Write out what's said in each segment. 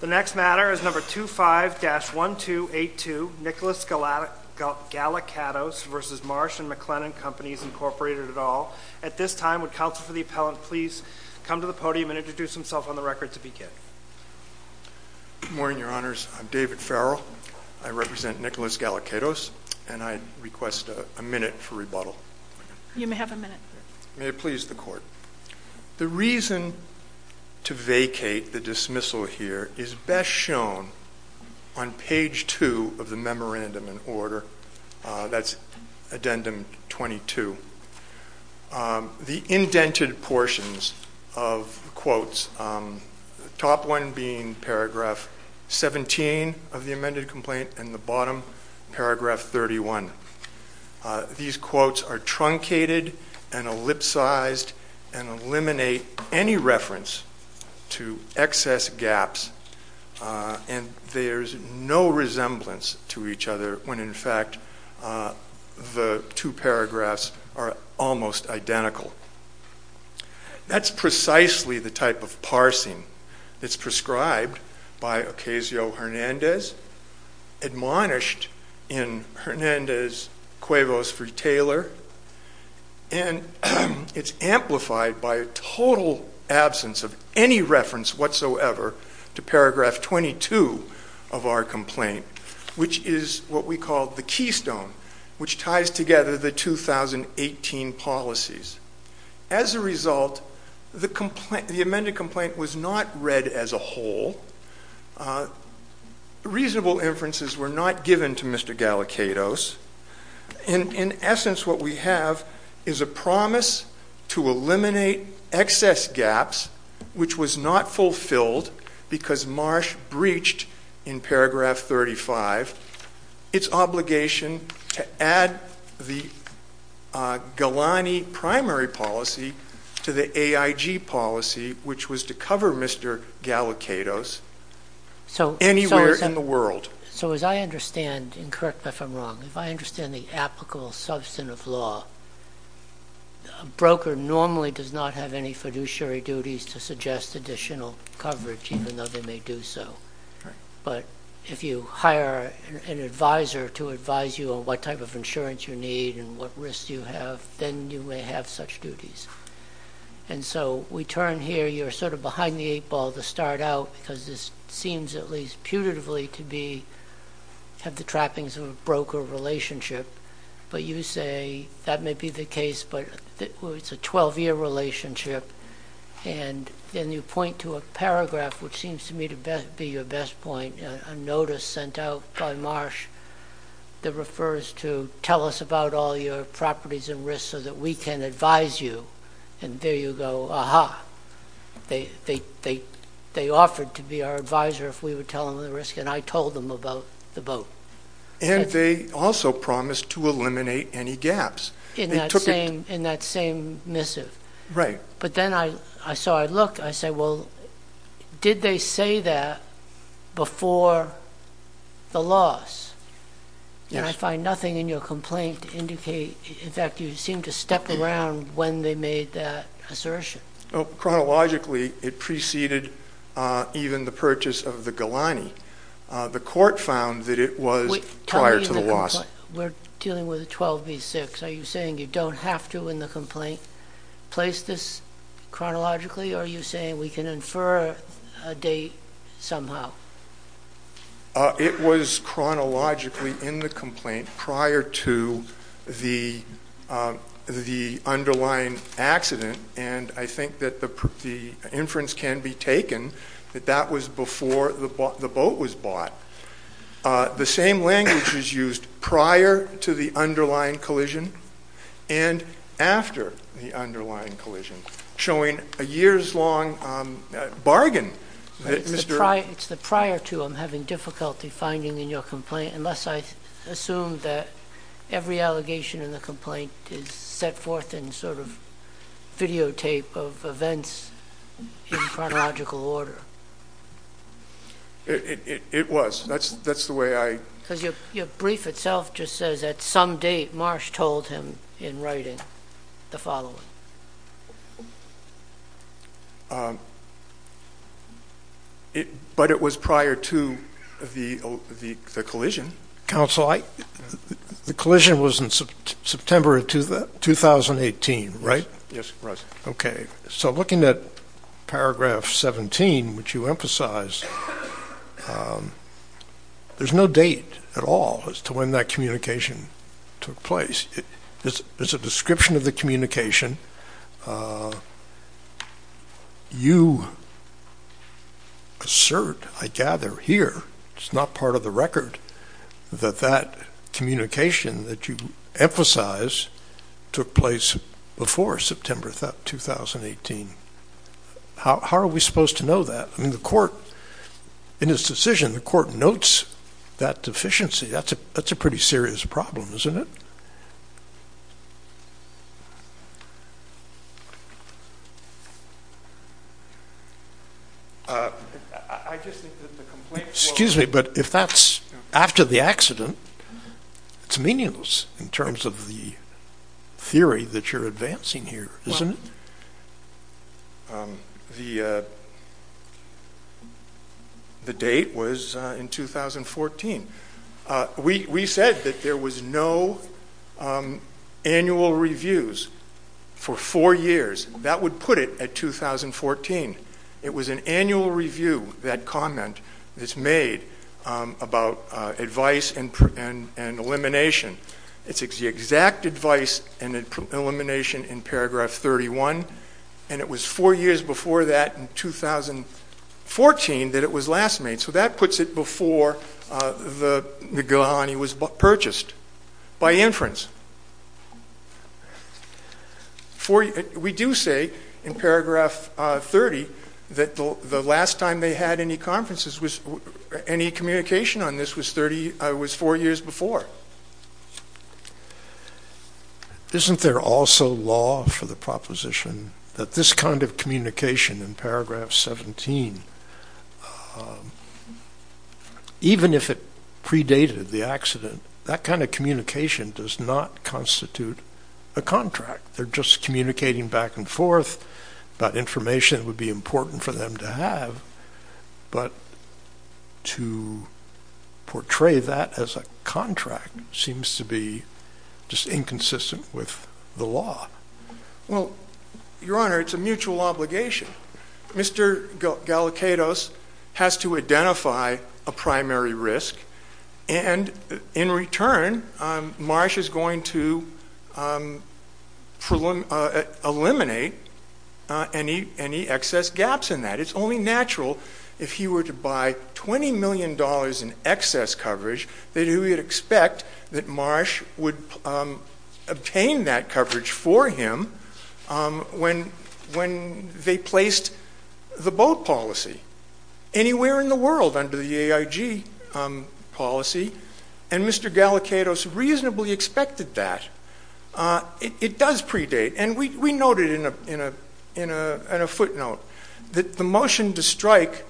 The next matter is No. 25-1282, Nicholas Galakatos v. Marsh & McLennan Companies, Inc., et al. At this time, would counsel for the appellant please come to the podium and introduce himself on the record to begin? Good morning, Your Honors. I'm David Farrell. I represent Nicholas Galakatos, and I request a minute for rebuttal. You may have a minute. May it please the Court. The reason to vacate the dismissal here is best shown on page 2 of the Memorandum in Order, that's Addendum 22. The indented portions of quotes, the top one being paragraph 17 of the amended complaint and the bottom, paragraph 31. These quotes are truncated and ellipsized and eliminate any reference to excess gaps, and there's no resemblance to each other when in fact the two paragraphs are almost identical. That's precisely the type of parsing that's prescribed by Ocasio-Hernandez, admonished in Hernandez-Cuevas v. Taylor, and it's amplified by a total absence of any reference whatsoever to paragraph 22 of our complaint, which is what we call the keystone, which ties together the 2018 policies. As a result, the amended complaint was not read as a whole. Reasonable inferences were not given to Mr. Galicados. In essence, what we have is a promise to eliminate excess gaps, which was not fulfilled because Marsh breached in paragraph 35, its obligation to add the Galani primary policy to the AIG policy, which was to cover Mr. Galicados anywhere in the world. So as I understand, and correct me if I'm wrong, if I understand the applicable substance of law, a broker normally does not have any fiduciary duties to suggest additional coverage even though they may do so, but if you hire an advisor to advise you on what type of insurance you need and what risks you have, then you may have such duties. And so we turn here, you're sort of behind the eight ball to start out because this seems at least putatively to have the trappings of a broker relationship, but you say that may be the case, but it's a 12-year relationship, and then you point to a paragraph, which seems to me to be your best point, a notice sent out by Marsh that refers to tell us about all your properties and risks so that we can advise you, and there you go, aha. They offered to be our advisor if we would tell them the risk, and I told them about the vote. And they also promised to eliminate any gaps. In that same missive. Right. But then I saw, I looked, I said, well, did they say that before the loss? Yes. And I find nothing in your complaint to indicate, in fact, you seem to step around when they made that assertion. Oh, chronologically, it preceded even the purchase of the Galani. The court found that it was prior to the loss. We're dealing with a 12 v. 6, are you saying you don't have to in the complaint place this chronologically, or are you saying we can infer a date somehow? It was chronologically in the complaint prior to the underlying accident, and I think that the inference can be taken that that was before the boat was bought. The same language is used prior to the underlying collision and after the underlying collision, showing a years-long bargain. Bargain? It's the prior to, I'm having difficulty finding in your complaint, unless I assume that every allegation in the complaint is set forth in sort of videotape of events in chronological order. It was. That's the way I. Because your brief itself just says at some date Marsh told him in writing the following. But it was prior to the collision. Counsel, the collision was in September of 2018, right? Yes, it was. Okay. So looking at paragraph 17, which you emphasize, there's no date at all as to when that communication took place. It's a description of the communication. You assert, I gather, here, it's not part of the record, that that communication that you emphasize took place before September 2018. How are we supposed to know that? I mean, the court, in his decision, the court notes that deficiency. That's a pretty serious problem, isn't it? I just think that the complaint. Excuse me, but if that's after the accident, it's meaningless in terms of the theory that you're advancing here, isn't it? The date was in 2014. We said that there was no annual reviews for four years. That would put it at 2014. It was an annual review, that comment that's made about advice and elimination. It's the exact advice and elimination in paragraph 31, and it was four years before that in 2014 that it was last made. So that puts it before the Gihanni was purchased by inference. We do say in paragraph 30 that the last time they had any conferences, any communication on this was four years before. Isn't there also law for the proposition that this kind of communication in paragraph 17, even if it predated the accident, that kind of communication does not constitute a contract. They're just communicating back and forth about information that would be important for them to have, but to portray that as a contract seems to be just inconsistent with the law. Well, Your Honor, it's a mutual obligation. Mr. Galicados has to identify a primary risk, and in return, Marsh is going to eliminate any excess gaps in that. It's only natural if he were to buy $20 million in excess coverage that he would expect that Marsh would obtain that coverage for him when they placed the boat policy anywhere in the world under the AIG policy, and Mr. Galicados reasonably expected that. It does predate, and we noted in a footnote that the motion to strike,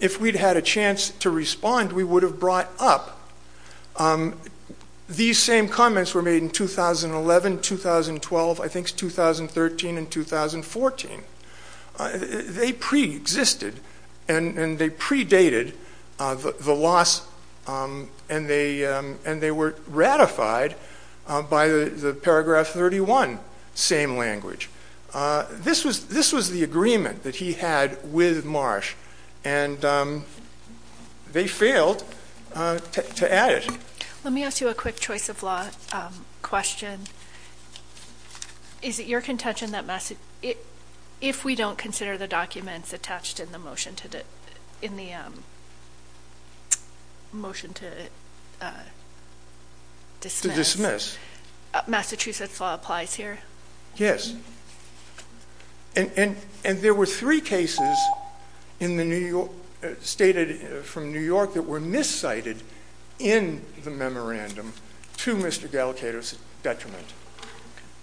if we'd had a chance to respond, we would have brought up. These same comments were made in 2011, 2012, I think it's 2013 and 2014. They pre-existed, and they predated the loss, and they were ratified by the paragraph 31, same language. This was the agreement that he had with Marsh, and they failed to add it. Let me ask you a quick choice of law question. Is it your contention that if we don't consider the documents attached in the motion to dismiss, Massachusetts law applies here? Yes. And there were three cases stated from New York that were miscited in the memorandum to Mr. Galicados' detriment.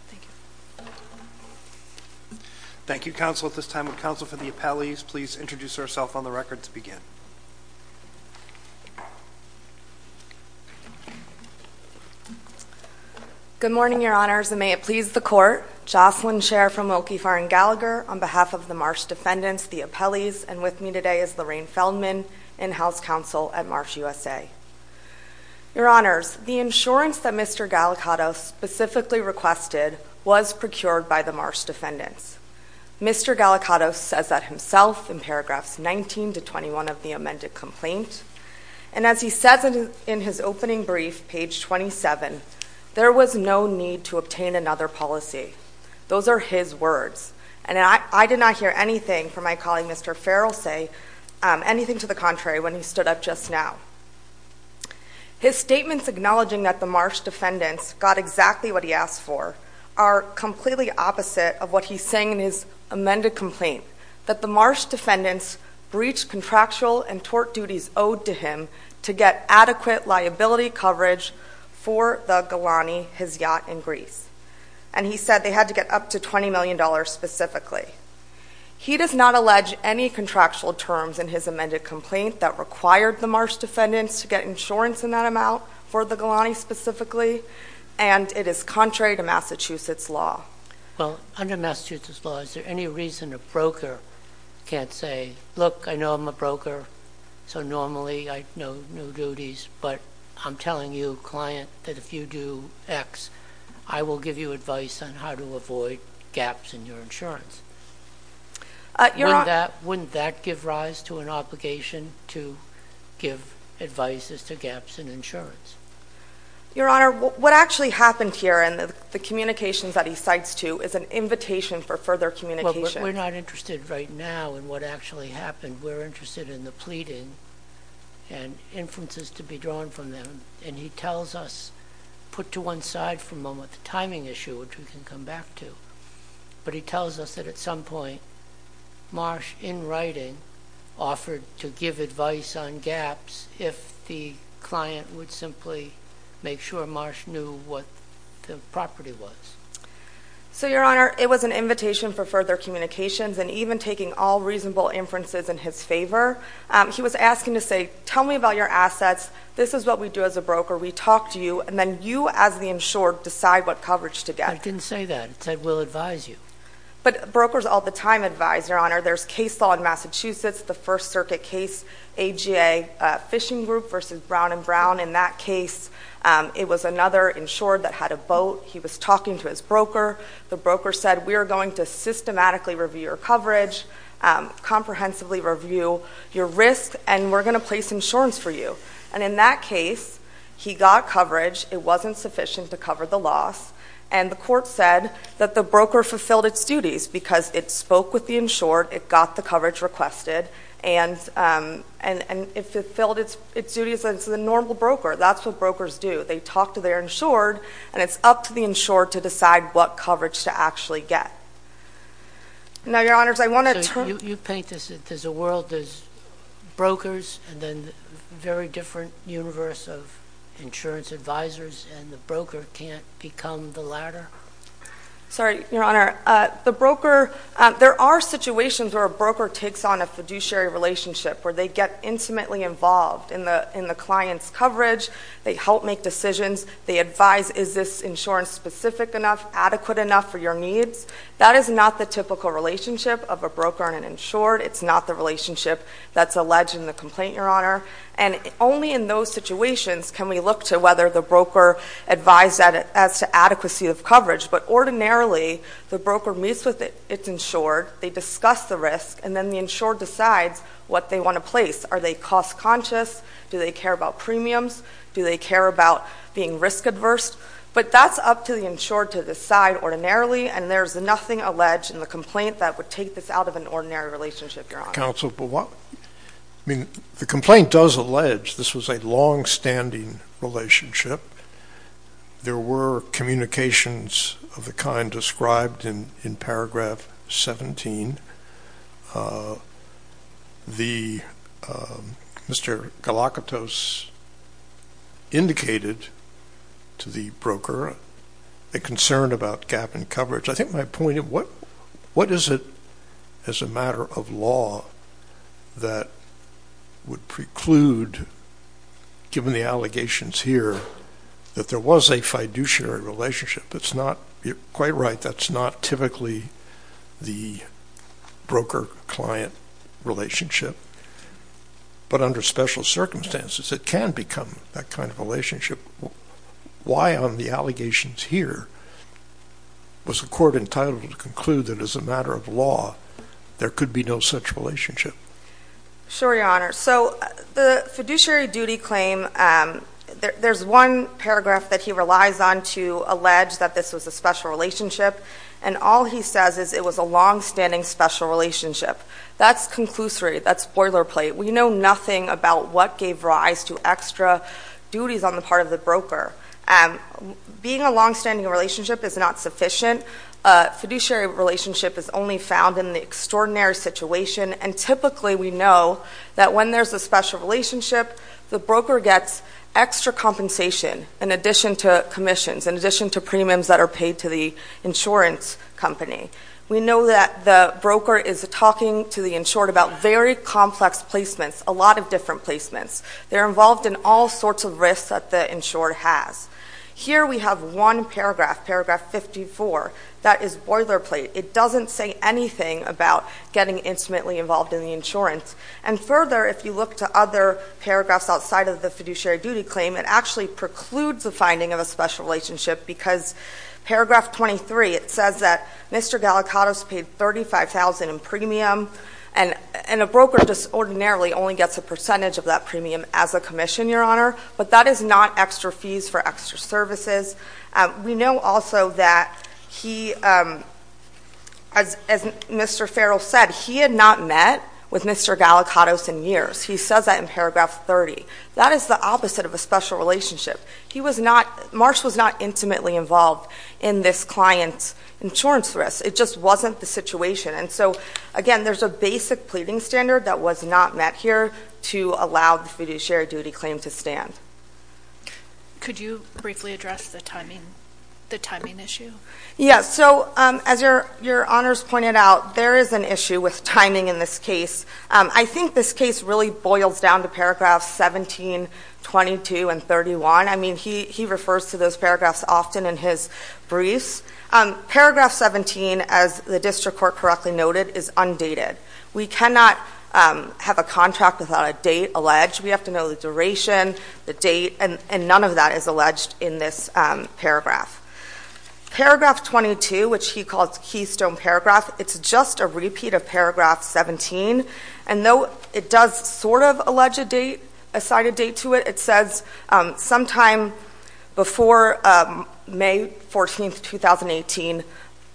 Thank you. Thank you, counsel. At this time, would counsel for the appellees please introduce herself on the record to begin? Good morning, Your Honors, and may it please the Court. Jocelyn Scherr from Okefarr and Gallagher on behalf of the Marsh defendants, the appellees, and with me today is Lorraine Feldman, in-house counsel at Marsh USA. Your Honors, the insurance that Mr. Galicados specifically requested was procured by the Marsh defendants. Mr. Galicados says that himself in paragraphs 19 to 21 of the amended complaint. And as he says in his opening brief, page 27, there was no need to obtain another policy. Those are his words. And I did not hear anything from my colleague Mr. Farrell say anything to the contrary when he stood up just now. His statements acknowledging that the Marsh defendants got exactly what he asked for are completely opposite of what he's saying in his amended complaint, that the Marsh defendants breached contractual and tort duties owed to him to get adequate liability coverage for the Galani, his yacht in Greece. And he said they had to get up to $20 million specifically. He does not allege any contractual terms in his amended complaint that required the Marsh defendants to get insurance in that amount for the Galani specifically. And it is contrary to Massachusetts law. Well, under Massachusetts law, is there any reason a broker can't say, look, I know I'm a broker, so normally I know no duties, but I'm telling you, client, that if you do X, I will give you advice on how to avoid gaps in your insurance. Wouldn't that give rise to an obligation to give advice as to gaps in insurance? Your Honor, what actually happened here in the communications that he cites to is an invitation for further communication. We're not interested right now in what actually happened. We're interested in the pleading and inferences to be drawn from them. And he tells us, put to one side for a moment, the timing issue, which we can come back to. But he tells us that at some point, Marsh, in writing, offered to give advice on gaps if the client would simply make sure Marsh knew what the property was. So, Your Honor, it was an invitation for further communications, and even taking all reasonable inferences in his favor, he was asking to say, tell me about your assets, this is what we do as a broker, we talk to you, and then you as the insured decide what coverage to get. I didn't say that. It said we'll advise you. But brokers all the time advise, Your Honor. There's case law in Massachusetts, the First Circuit case, AGA Fishing Group versus Brown and Brown. In that case, it was another insured that had a boat. He was talking to his broker. The broker said, we are going to systematically review your coverage, comprehensively review your risk, and we're going to place insurance for you. And in that case, he got coverage. It wasn't sufficient to cover the loss. And the court said that the broker fulfilled its duties, because it spoke with the insured, it got the coverage requested, and it fulfilled its duties as a normal broker. That's what brokers do. They talk to their insured, and it's up to the insured to decide what coverage to actually get. Now, Your Honors, I want to turn... So, you paint this as a world as brokers, and then a very different universe of insurance advisors, and the broker can't become the latter? Sorry, Your Honor. The broker... There are situations where a broker takes on a fiduciary relationship, where they get intimately involved in the client's coverage. They help make decisions. They advise, is this insurance specific enough, adequate enough for your needs? That is not the typical relationship of a broker and an insured. It's not the relationship that's alleged in the complaint, Your Honor. And only in those situations can we look to whether the broker advised as to adequacy of coverage. But ordinarily, the broker meets with its insured, they discuss the risk, and then the insured decides what they want to place. Are they cost conscious? Do they care about premiums? Do they care about being risk adverse? But that's up to the insured to decide ordinarily, and there's nothing alleged in the complaint that would take this out of an ordinary relationship, Your Honor. Not counsel, but what... I mean, the complaint does allege this was a longstanding relationship. There were communications of the kind described in paragraph 17. Mr. Galakatos indicated to the broker a concern about gap in coverage. I think my point is, what is it as a matter of law that would preclude, given the allegations here, that there was a fiduciary relationship? It's not, you're quite right, that's not typically the broker-client relationship. But under special circumstances, it can become that kind of relationship. Why on the allegations here was the court entitled to conclude that as a matter of law, there could be no such relationship? Sure, Your Honor. So the fiduciary duty claim, there's one paragraph that he relies on to allege that this was a special relationship, and all he says is it was a longstanding special relationship. That's conclusory. That's spoiler plate. We know nothing about what gave rise to extra duties on the part of the broker. Being a longstanding relationship is not sufficient. A fiduciary relationship is only found in the extraordinary situation, and typically we know that when there's a special relationship, the broker gets extra compensation in addition to commissions, in addition to premiums that are paid to the insurance company. We know that the broker is talking to the insured about very complex placements, a lot of different placements. They're involved in all sorts of risks that the insured has. Here we have one paragraph, paragraph 54, that is boilerplate. It doesn't say anything about getting intimately involved in the insurance. And further, if you look to other paragraphs outside of the fiduciary duty claim, it actually precludes the finding of a special relationship because paragraph 23, it says that Mr. Gallicatos paid $35,000 in premium, and a broker just ordinarily only gets a percentage of that premium as a commission, Your Honor, but that is not extra fees for extra services. We know also that he, as Mr. Farrell said, he had not met with Mr. Gallicatos in years. He says that in paragraph 30. That is the opposite of a special relationship. He was not, Marsh was not intimately involved in this client's insurance risk. It just wasn't the situation. And so, again, there's a basic pleading standard that was not met here to allow the fiduciary duty claim to stand. Could you briefly address the timing issue? Yes, so as Your Honors pointed out, there is an issue with timing in this case. I think this case really boils down to paragraphs 17, 22, and 31. I mean, he refers to those paragraphs often in his briefs. Paragraph 17, as the district court correctly noted, is undated. We cannot have a contract without a date alleged. We have to know the duration, the date, and none of that is alleged in this paragraph. Paragraph 22, which he calls Keystone Paragraph, it's just a repeat of paragraph 17. And though it does sort of allege a date, assign a date to it, it says sometime before May 14, 2018,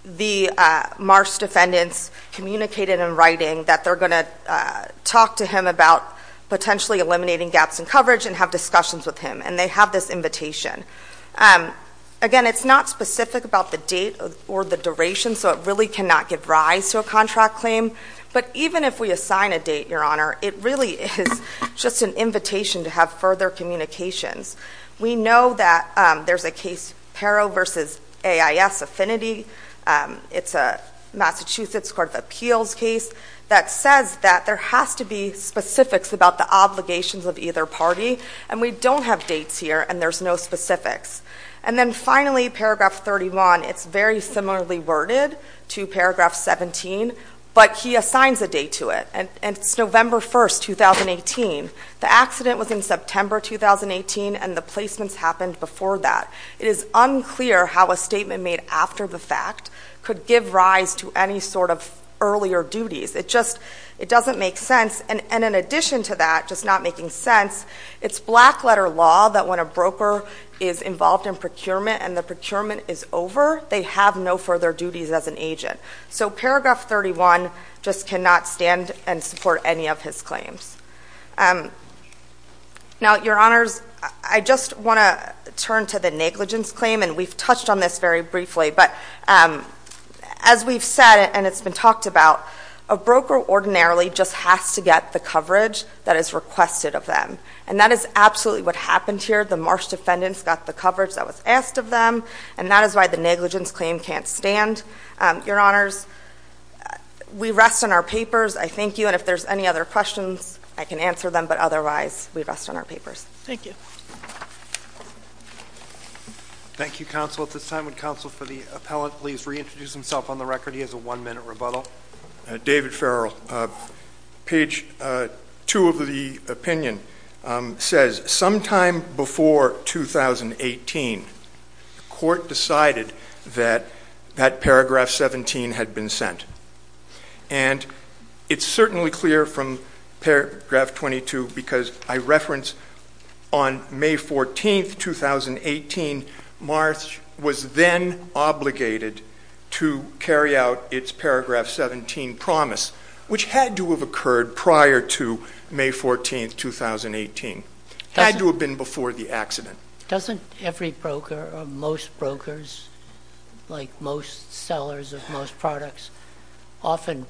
the Marsh defendants communicated in writing that they're going to talk to him about potentially eliminating gaps in coverage and have discussions with him. And they have this invitation. Again, it's not specific about the date or the duration, so it really cannot give rise to a contract claim. But even if we assign a date, Your Honor, it really is just an invitation to have further communications. We know that there's a case, Pero v. AIS Affinity. It's a Massachusetts Court of Appeals case that says that there has to be specifics about the obligations of either party. And we don't have dates here, and there's no specifics. And then finally, paragraph 31. It's very similarly worded to paragraph 17, but he assigns a date to it. And it's November 1, 2018. The accident was in September 2018, and the placements happened before that. It is unclear how a statement made after the fact could give rise to any sort of earlier duties. It just doesn't make sense. And in addition to that just not making sense, it's black letter law that when a broker is involved in procurement and the procurement is over, they have no further duties as an agent. So paragraph 31 just cannot stand and support any of his claims. Now, Your Honors, I just want to turn to the negligence claim, and we've touched on this very briefly. But as we've said and it's been talked about, a broker ordinarily just has to get the coverage that is requested of them. And that is absolutely what happened here. The Marsh defendants got the coverage that was asked of them, and that is why the negligence claim can't stand. Your Honors, we rest on our papers. I thank you, and if there's any other questions, I can answer them. But otherwise, we rest on our papers. Thank you. Thank you, Counsel. At this time, would Counsel for the Appellant please reintroduce himself on the record? He has a one-minute rebuttal. David Farrell. Page 2 of the opinion says, sometime before 2018, the Court decided that that paragraph 17 had been sent. And it's certainly clear from paragraph 22, because I reference on May 14, 2018, Marsh was then obligated to carry out its paragraph 17 promise, which had to have occurred prior to May 14, 2018. It had to have been before the accident. Doesn't every broker or most brokers, like most sellers of most products, often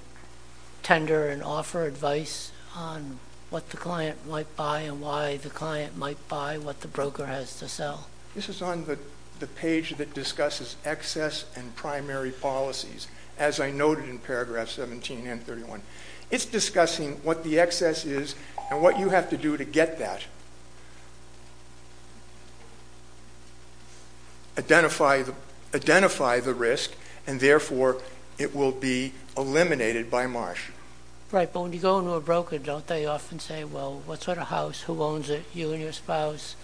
tender and offer advice on what the client might buy and why the client might buy what the broker has to sell? This is on the page that discusses excess and primary policies, as I noted in paragraph 17 and 31. It's discussing what the excess is and what you have to do to get that. Identify the risk, and therefore, it will be eliminated by Marsh. Right, but when you go into a broker, don't they often say, well, what sort of house, who owns it, you and your spouse?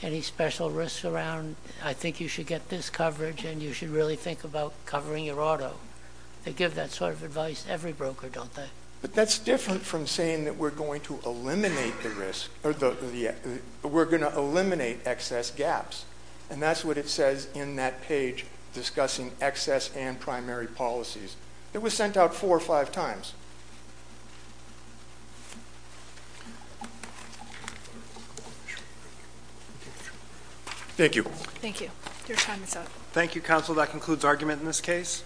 Any special risks around? I think you should get this coverage, and you should really think about covering your auto. They give that sort of advice to every broker, don't they? But that's different from saying that we're going to eliminate the risk, or we're going to eliminate excess gaps. And that's what it says in that page, discussing excess and primary policies. It was sent out four or five times. Thank you. Thank you. Your time is up. Thank you, counsel. That concludes argument in this case.